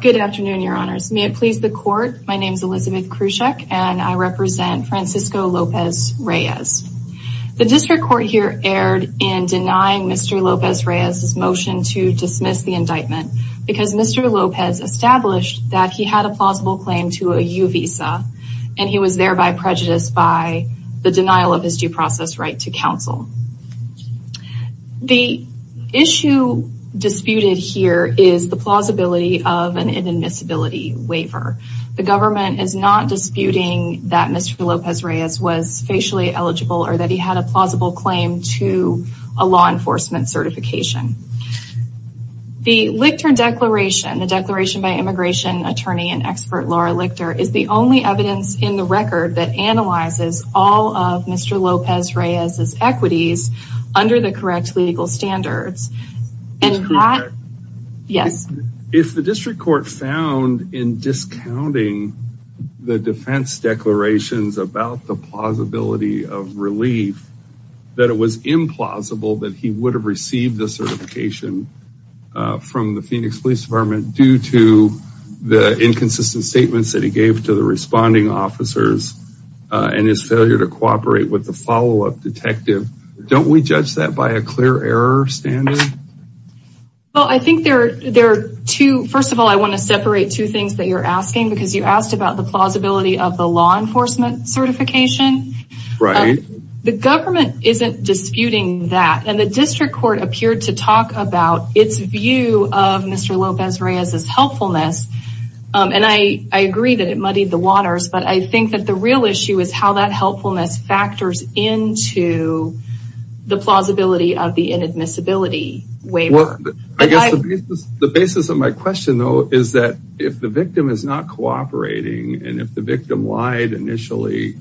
Good afternoon, your honors. May it please the court, my name is Elizabeth Krushek and I represent Francisco Lopez-Reyes. The district court here erred in denying Mr. Lopez-Reyes' motion to dismiss the indictment because Mr. Lopez established that he had a plausible claim to a U visa and he was thereby prejudiced by the denial of his due process right to counsel. The issue disputed here is the plausibility of an inadmissibility waiver. The government is not disputing that Mr. Lopez-Reyes was facially eligible or that he had a plausible claim to a law enforcement certification. The Lichter declaration, the declaration by immigration attorney and expert Laura Lichter, is the only evidence in the record that analyzes all of Mr. under the correct legal standards. If the district court found in discounting the defense declarations about the plausibility of relief that it was implausible that he would have received the certification from the Phoenix Police Department due to the inconsistent statements that he gave to the responding officers and his failure to cooperate with the follow-up detective don't we judge that by a clear error standard? Well I think there there are two first of all I want to separate two things that you're asking because you asked about the plausibility of the law enforcement certification. Right. The government isn't disputing that and the district court appeared to talk about its view of Mr. Lopez-Reyes' helpfulness and I agree that it muddied the the plausibility of the inadmissibility waiver. I guess the basis of my question though is that if the victim is not cooperating and if the victim lied initially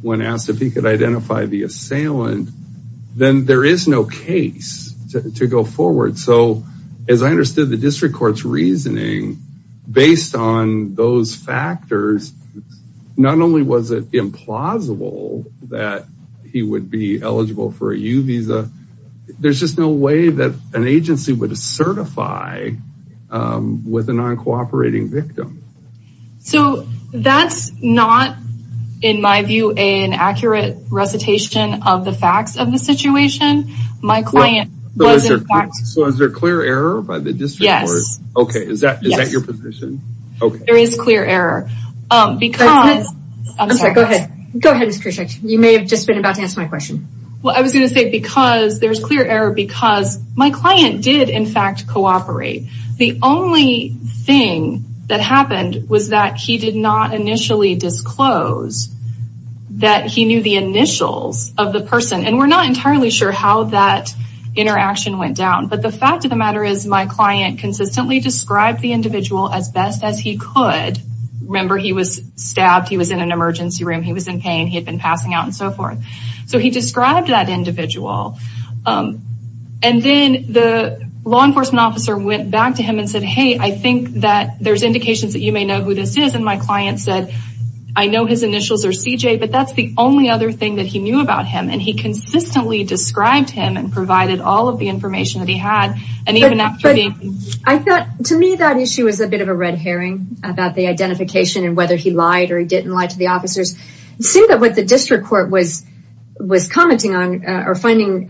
when asked if he could identify the assailant then there is no case to go forward. So as I understood the district court's there's just no way that an agency would certify with a non-cooperating victim. So that's not in my view an accurate recitation of the facts of the situation. So is there clear error by the district? Yes. Okay is that is that your position? Okay there is clear error because I'm sorry go ahead go ahead Mr. Krischak you may have just about to answer my question. Well I was going to say because there's clear error because my client did in fact cooperate. The only thing that happened was that he did not initially disclose that he knew the initials of the person and we're not entirely sure how that interaction went down but the fact of the matter is my client consistently described the individual as best as he could. Remember he was stabbed, he was in an emergency room, he was in pain, he had been passing out and so forth. So he described that individual and then the law enforcement officer went back to him and said hey I think that there's indications that you may know who this is and my client said I know his initials are CJ but that's the only other thing that he knew about him and he consistently described him and provided all of the information that he had. I thought to me that issue is a bit of a red herring about the identification and whether he lied or he didn't lie to the officers. It seemed that what the district court was commenting on or finding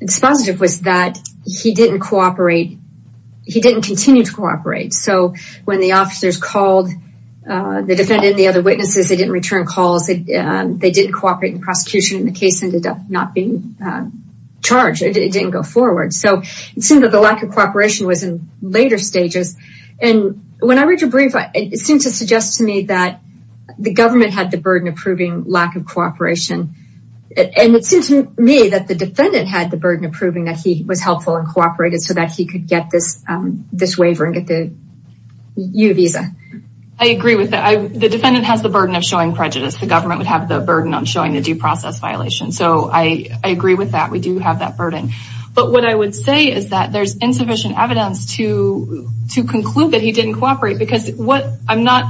expositive was that he didn't cooperate, he didn't continue to cooperate. So when the officers called the defendant and the other witnesses they didn't return calls, they didn't cooperate in prosecution and the case ended up not being charged, it didn't go forward. So it seemed that the lack of cooperation was in later stages and when I read your brief it seemed to suggest to me that the government had the burden of proving lack of cooperation and it seemed to me that the defendant had the burden of proving that he was helpful and cooperated so that he could get this waiver and get the U visa. I agree with that, the defendant has the burden of showing prejudice, the government would have the burden on showing the due process violation. So I agree with that, we do have that burden. But what I would say is that there's not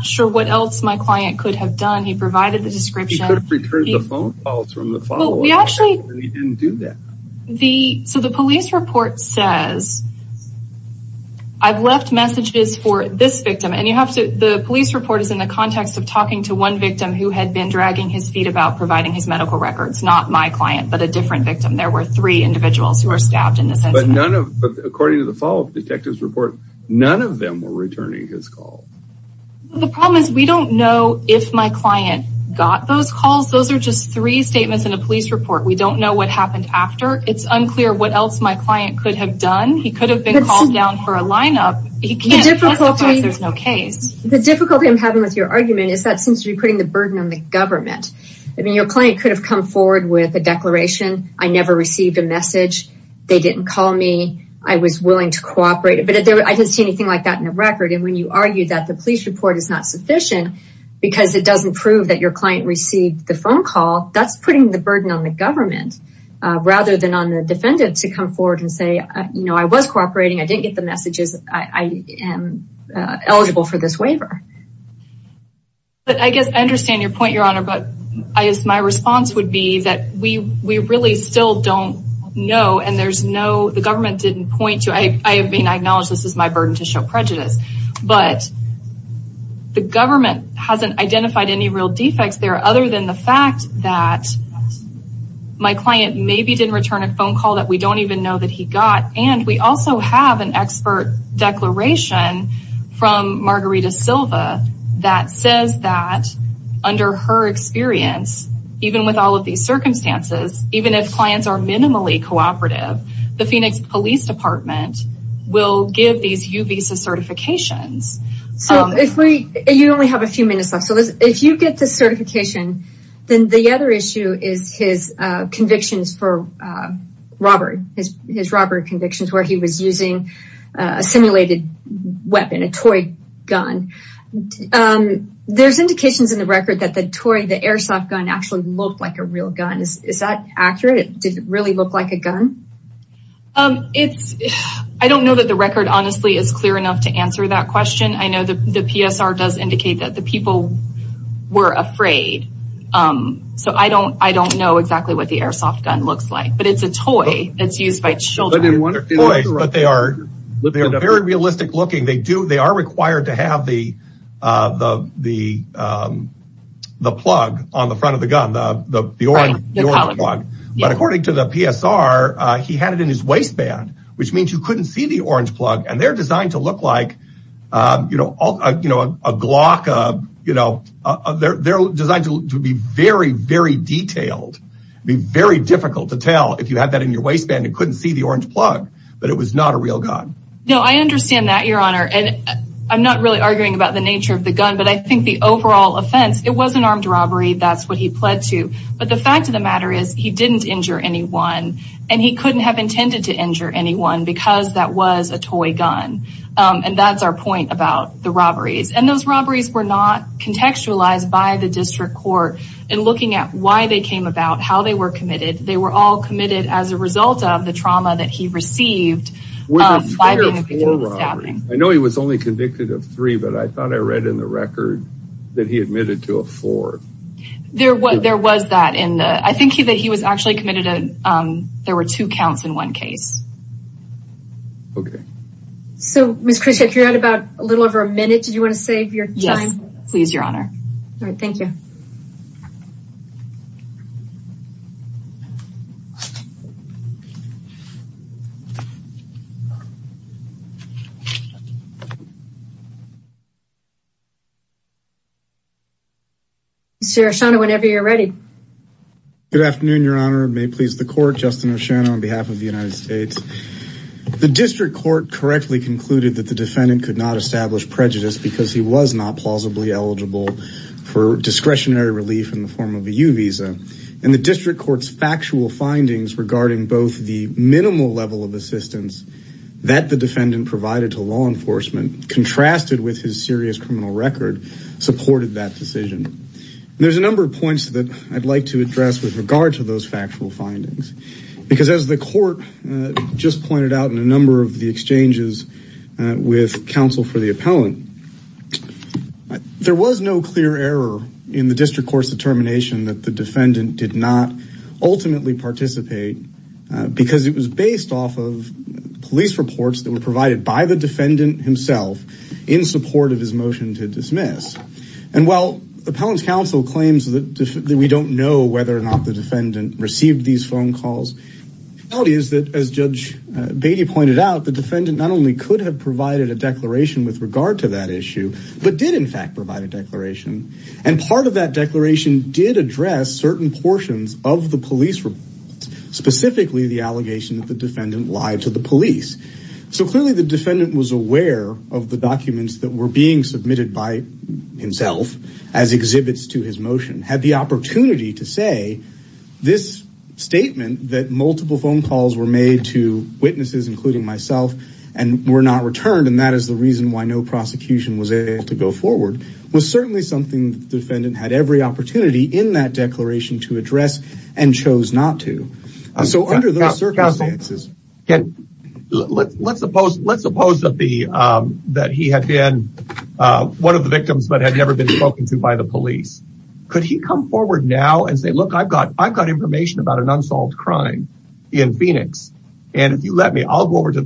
sure what else my client could have done, he provided the description. He could have returned the phone calls from the follow-up and he didn't do that. So the police report says, I've left messages for this victim and you have to, the police report is in the context of talking to one victim who had been dragging his feet about providing his medical records, not my client but a different victim, there were three individuals who were stabbed in this incident. But according to the follow-up detective's report, none of them were returning his call. The problem is we don't know if my client got those calls, those are just three statements in a police report, we don't know what happened after. It's unclear what else my client could have done, he could have been called down for a lineup. The difficulty I'm having with your argument is that seems to be putting the burden on the government. I mean your client could have come forward with a declaration, I never received a message, they didn't call me, I was willing to cooperate, but I didn't see anything like that in the record. And when you argue that the police report is not sufficient because it doesn't prove that your client received the phone call, that's putting the burden on the government rather than on the defendant to come forward and say, you know, I was cooperating, I didn't get the messages, I am eligible for this waiver. But I guess I understand your point, but I guess my response would be that we really still don't know and there's no, the government didn't point to, I mean I acknowledge this is my burden to show prejudice, but the government hasn't identified any real defects there other than the fact that my client maybe didn't return a phone call that we don't even know that he got, and we also have an expert declaration from Margarita Silva that says that under her experience, even with all of these circumstances, even if clients are minimally cooperative, the Phoenix Police Department will give these U-Visa certifications. So if we, you only have a few minutes left, so if you get this certification, then the other issue is his convictions for robbery, his robbery convictions where he was using a simulated weapon, a toy gun. There's indications in the record that the toy, the airsoft gun actually looked like a real gun. Is that accurate? Did it really look like a gun? It's, I don't know that the record honestly is clear enough to answer that question. I know that the PSR does indicate that the people were afraid, so I don't know exactly what the airsoft gun looks like, but it's a toy that's used by children. They're toys, but they are very realistic looking. They are required to have the plug on the front of the gun, the orange plug, but according to the PSR, he had it in his waistband, which means you couldn't see the orange plug, and they're designed to look like, you know, a Glock, you know, they're designed to be very, very detailed. It'd be very difficult to tell if you had that in your waistband, you couldn't see the orange plug, but it was not a real gun. No, I understand that, your honor, and I'm not really arguing about the nature of the gun, but I think the overall offense, it was an armed robbery, that's what he pled to, but the fact of the matter is he didn't injure anyone, and he couldn't have intended to injure anyone because that was a toy gun, and that's our point about the robberies, and those robberies were not contextualized by the district court, and looking at why they came about, how they were committed, they were all committed as a result of the trauma that he received. I know he was only convicted of three, but I thought I read in the record that he admitted to a four. There was that in the, I think that he was actually committed to, there were two counts in one case. Okay. So, Ms. Christia, if you're at about a little over a minute, did you want to save your time? Yes, please, your honor. All right, thank you. Thank you, Mr. O'Shaughnessy. Mr. O'Shaughnessy, whenever you're ready. Good afternoon, your honor. May it please the court, Justin O'Shaughnessy on behalf of the United States. The district court correctly concluded that the defendant could not establish and the district court's factual findings regarding both the minimal level of assistance that the defendant provided to law enforcement contrasted with his serious criminal record supported that decision. There's a number of points that I'd like to address with regard to those factual findings, because as the court just pointed out in a number of the exchanges with counsel for the appellant, there was no clear error in the district court's determination that the defendant did not ultimately participate because it was based off of police reports that were provided by the defendant himself in support of his motion to dismiss. And while the appellant's counsel claims that we don't know whether or not the defendant received these phone calls, the reality is that as Judge Beatty pointed out, the defendant not only could have provided a declaration with regard to that issue, but did in fact provide a declaration. And part of that declaration did address certain portions of the police reports, specifically the allegation that the defendant lied to the police. So clearly the defendant was aware of the documents that were being submitted by himself as exhibits to his motion, had the opportunity to say this statement that multiple phone calls were made to witnesses, including myself, and were not returned. And that is the reason why no prosecution was able to go forward. It was certainly something the defendant had every opportunity in that declaration to address and chose not to. So under those circumstances. Let's suppose that he had been one of the victims but had never been spoken to by the police. Could he come forward now and say, look, I've got information about an unsolved crime in Phoenix, and if you let me, I'll go Does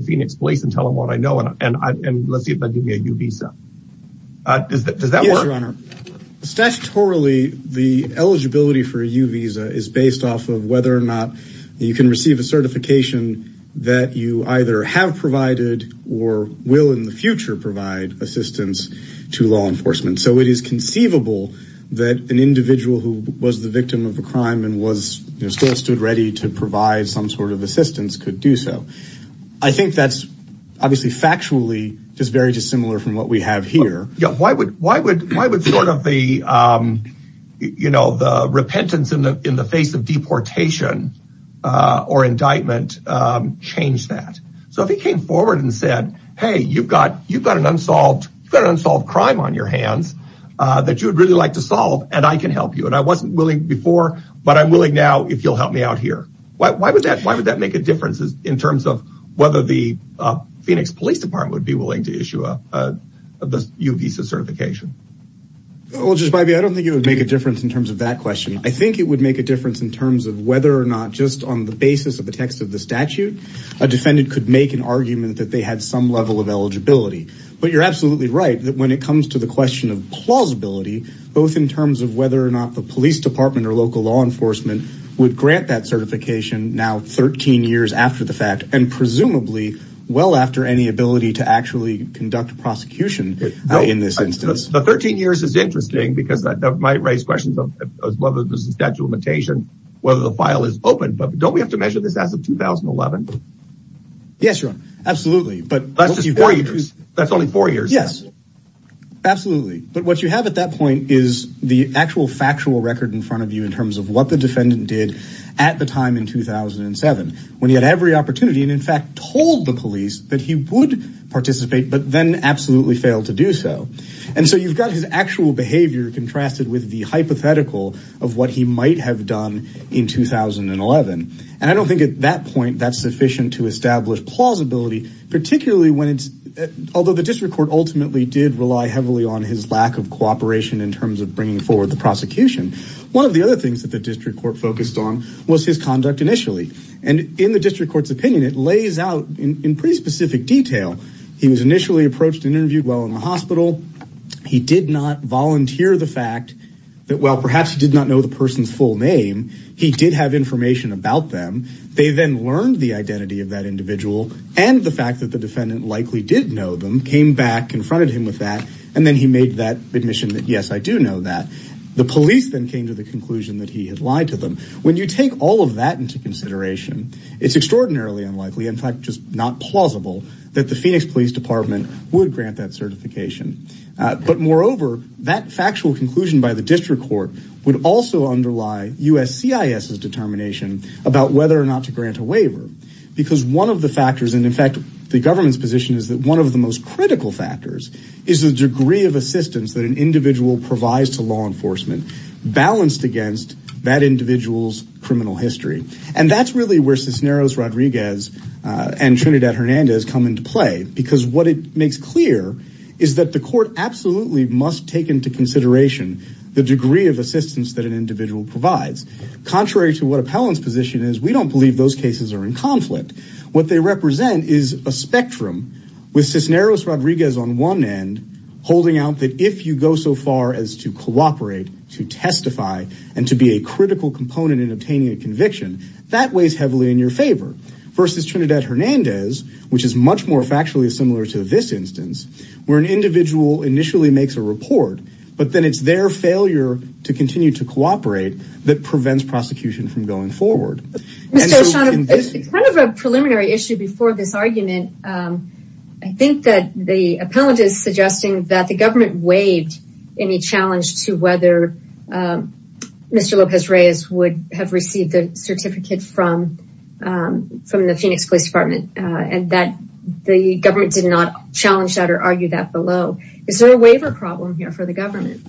that work? Statutorily, the eligibility for a U visa is based off of whether or not you can receive a certification that you either have provided or will in the future provide assistance to law enforcement. So it is conceivable that an individual who was the victim of a crime and was still stood ready to provide some sort of assistance could do so. I think that's obviously factually very dissimilar from what we have here. Why would the repentance in the face of deportation or indictment change that? So if he came forward and said, hey, you've got an unsolved crime on your hands that you would really like to solve, and I can help you. And I wasn't willing before, but I'm willing now if you'll help me out here. Why would that make a difference in terms of the Phoenix Police Department would be willing to issue a U visa certification? Well, Judge Bybee, I don't think it would make a difference in terms of that question. I think it would make a difference in terms of whether or not just on the basis of the text of the statute, a defendant could make an argument that they had some level of eligibility. But you're absolutely right that when it comes to the question of plausibility, both in terms of whether or not the police department or local law enforcement would grant that certification now 13 years after the fact, and presumably well after any ability to actually conduct a prosecution in this instance. The 13 years is interesting because that might raise questions of whether there's a statute limitation, whether the file is open, but don't we have to measure this as of 2011? Yes, Your Honor. Absolutely. But that's just four years. That's only four years. Yes, absolutely. But what you have at that point is the actual factual record in front of you in terms of what the defendant did at the time in 2007, when he had every opportunity and in fact, told the police that he would participate, but then absolutely failed to do so. And so you've got his actual behavior contrasted with the hypothetical of what he might have done in 2011. And I don't think at that point, that's sufficient to establish plausibility, particularly when it's, although the district court ultimately did rely heavily on his lack of cooperation in terms of bringing forward the prosecution. One of the other things that the district court focused on was his conduct initially. And in the district court's opinion, it lays out in pretty specific detail. He was initially approached and interviewed while in the hospital. He did not volunteer the fact that, well, perhaps he did not know the person's full name. He did have information about them. They then learned the identity of that individual and the fact that the defendant likely did know them, came back, confronted him with that. And then he made that admission that, yes, I do know that. The police then came to the conclusion that he had lied to them. When you take all of that into consideration, it's extraordinarily unlikely, in fact, just not plausible that the Phoenix Police Department would grant that certification. But moreover, that factual conclusion by the district court would also underlie USCIS's determination about whether or not to grant a waiver. Because one of the factors, and in fact, the government's position is that one of the most critical factors is the degree of assistance that an individual provides to law enforcement balanced against that individual's criminal history. And that's really where Cisneros Rodriguez and Trinidad Hernandez come into play. Because what it makes clear is that the court absolutely must take into consideration the degree of assistance that an individual provides. Contrary to what appellant's position is, we don't believe those cases are in conflict. What they represent is a spectrum, with Cisneros Rodriguez on one end, holding out that if you go so far as to cooperate, to testify, and to be a critical component in obtaining a conviction, that weighs heavily in your favor. Versus Trinidad Hernandez, which is much more factually similar to this instance, where an individual initially makes a report, but then it's their failure to continue to cooperate that prevents prosecution from going forward. I have a preliminary issue before this argument. I think that the appellant is suggesting that the government waived any challenge to whether Mr. Lopez-Reyes would have received the certificate from the Phoenix Police Department, and that the government did not challenge that or argue that below. Is there a waiver problem here for the government?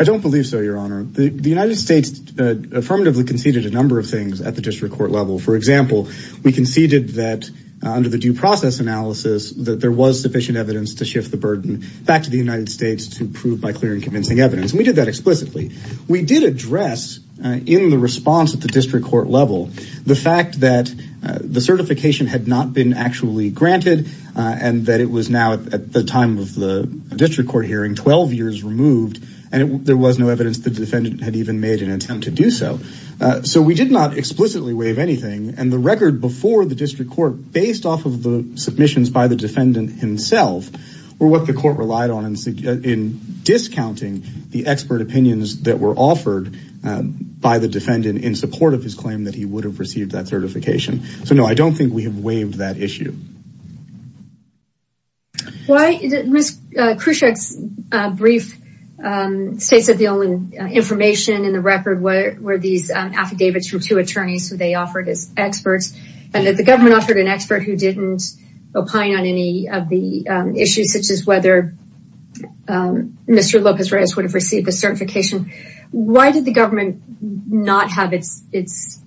I don't believe so, Your Honor. The United States affirmatively conceded a number of things at the district court level. For example, we conceded that under the due process analysis, that there was sufficient evidence to shift the burden back to the United States to prove by clear and convincing evidence. We did that explicitly. We did address in the response at the district court level, the fact that the certification had not been actually granted, and that it was now at the time of the district court hearing, 12 years removed, and there was no evidence the defendant had even made an attempt to do so. So we did not explicitly waive anything, and the record before the district court, based off of the submissions by the defendant himself, were what the court relied on in discounting the expert opinions that were offered by the defendant in support of his claim that he would have received that certification. So no, I don't think we have waived that issue. Ms. Khrushchev's brief states that the only information in the record were these affidavits from two attorneys who they offered as experts, and that the government offered an expert who didn't opine on any of the issues, such as whether Mr. Lopez-Reyes would have received a certification. Why did the government not have its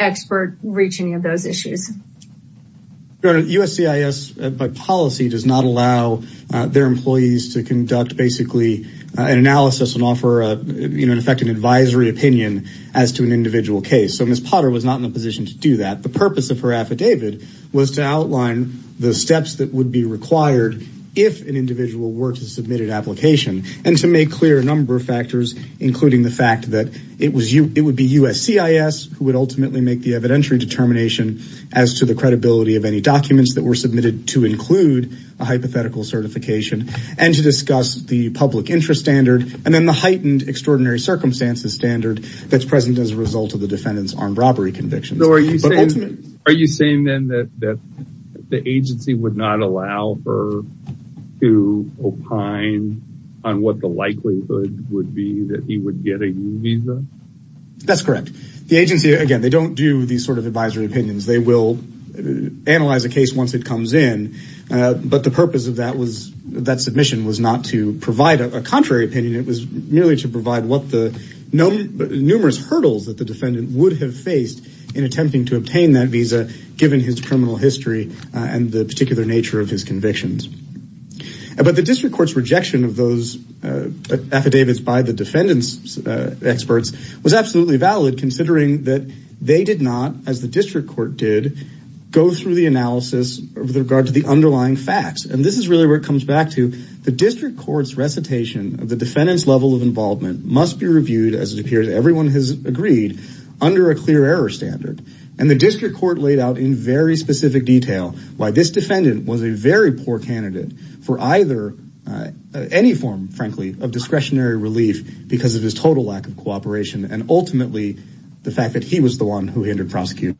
expert reach any of those issues? Your Honor, USCIS, by policy, does not allow their employees to conduct basically an analysis and offer, in effect, an advisory opinion as to an individual case. So Ms. Potter was not in a position to do that. The purpose of her affidavit was to outline the steps that would be required if an individual were to submit an application, and to make clear a number of factors, including the fact that it would be USCIS who would ultimately make the evidentiary determination as to the credibility of any documents that were submitted to include a hypothetical certification, and to discuss the public interest standard, and then the heightened extraordinary circumstances standard that's present as a result of the defendant's armed robbery conviction. Are you saying then that the agency would not allow her to opine on what the likelihood would be that he would get a new visa? That's correct. The agency, again, they don't do these sort of advisory opinions. They will analyze a case once it comes in, but the purpose of that submission was not to provide a contrary opinion. It was merely to obtain that visa, given his criminal history and the particular nature of his convictions. But the district court's rejection of those affidavits by the defendant's experts was absolutely valid, considering that they did not, as the district court did, go through the analysis with regard to the underlying facts. And this is really where it comes back to. The district court's recitation of the defendant's level of involvement must be reviewed, as it appears everyone has and the district court laid out in very specific detail why this defendant was a very poor candidate for any form, frankly, of discretionary relief because of his total lack of cooperation, and ultimately the fact that he was the one who hindered prosecution.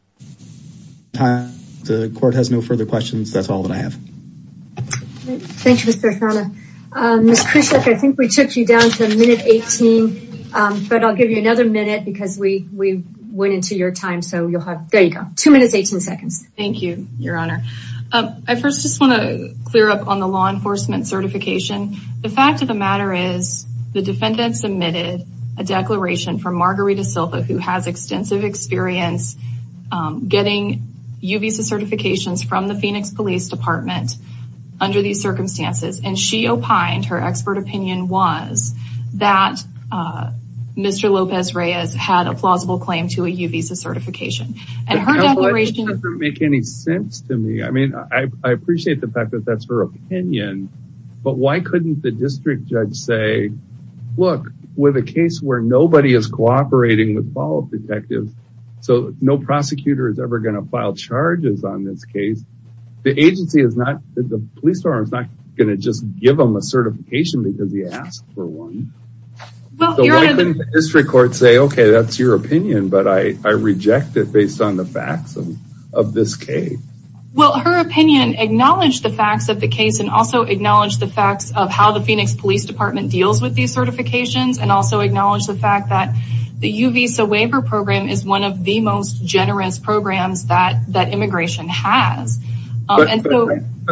The court has no further questions. That's all that I have. Thank you, Mr. Farhana. Ms. Khrushchev, I think we took you down to minute 18, but I'll give you another minute because we went into your time, so you'll have two minutes, 18 seconds. Thank you, Your Honor. I first just want to clear up on the law enforcement certification. The fact of the matter is the defendant submitted a declaration from Margarita Silva, who has extensive experience getting U visa certifications from the Phoenix Police Department under these circumstances, and she opined, her expert opinion was, that Mr. Lopez-Reyes had a plausible claim to a U visa certification. And her declaration doesn't make any sense to me. I mean, I appreciate the fact that that's her opinion, but why couldn't the district judge say, look, with a case where nobody is cooperating with follow-up detectives, so no prosecutor is ever going to file charges on this case, the agency is not, the police department is not going to just give him a certification because he asked for one. Why couldn't the district court say, okay, that's your opinion, but I reject it based on the facts of this case? Well, her opinion acknowledged the facts of the case and also acknowledged the facts of how the Phoenix Police Department deals with these certifications and acknowledged the fact that the U visa waiver program is one of the most generous programs that immigration has. But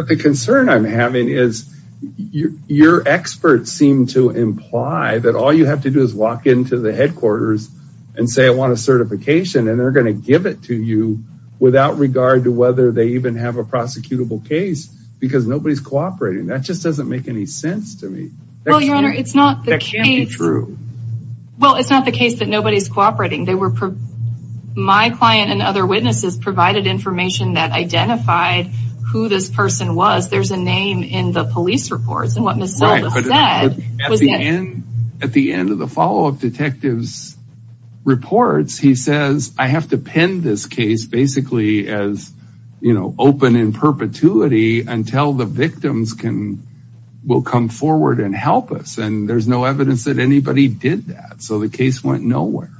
the concern I'm having is your experts seem to imply that all you have to do is walk into the headquarters and say, I want a certification and they're going to give it to you without regard to whether they even have a prosecutable case because nobody's cooperating. That just doesn't make any sense to me. Well, your honor, it's not true. Well, it's not the case that nobody's cooperating. They were my client and other witnesses provided information that identified who this person was. There's a name in the police reports and what Ms. Silva said. At the end of the follow-up detectives reports, he says, I have to pin this case basically as, you know, open in perpetuity until the victims can, will come forward and help us. And there's no evidence that anybody did that. So the case went nowhere.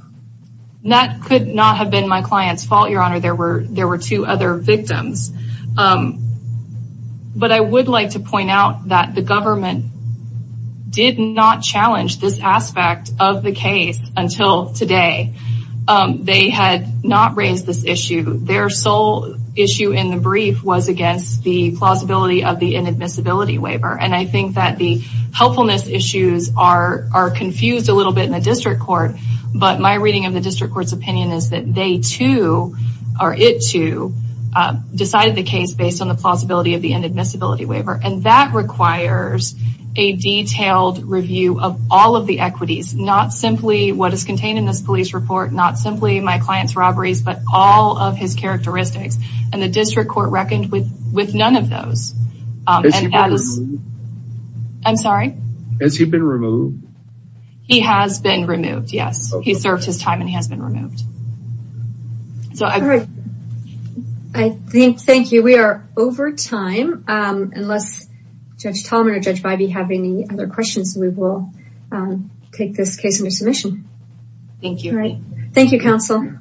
That could not have been my client's fault, your honor. There were, there were two other victims. But I would like to point out that the government did not challenge this aspect of the case until today. They had not raised this issue. Their sole issue in the brief was against the plausibility of the inadmissibility waiver. And I think that the helpfulness issues are, are confused a little bit in the district court. But my reading of the district court's opinion is that they too, or it too, decided the case based on the plausibility of the inadmissibility waiver. And that requires a detailed review of all of the equities, not simply what is contained in this police report, not simply my client's robberies, but all of his characteristics. And the district court reckoned with, with none of those. And that is, I'm sorry? Has he been removed? He has been removed. Yes. He served his time and he has been removed. All right. I think, thank you. We are over time. Unless Judge Tallman or Judge Bybee have any other questions, we will take this case under submission. Thank you. All right. Thank you, counsel.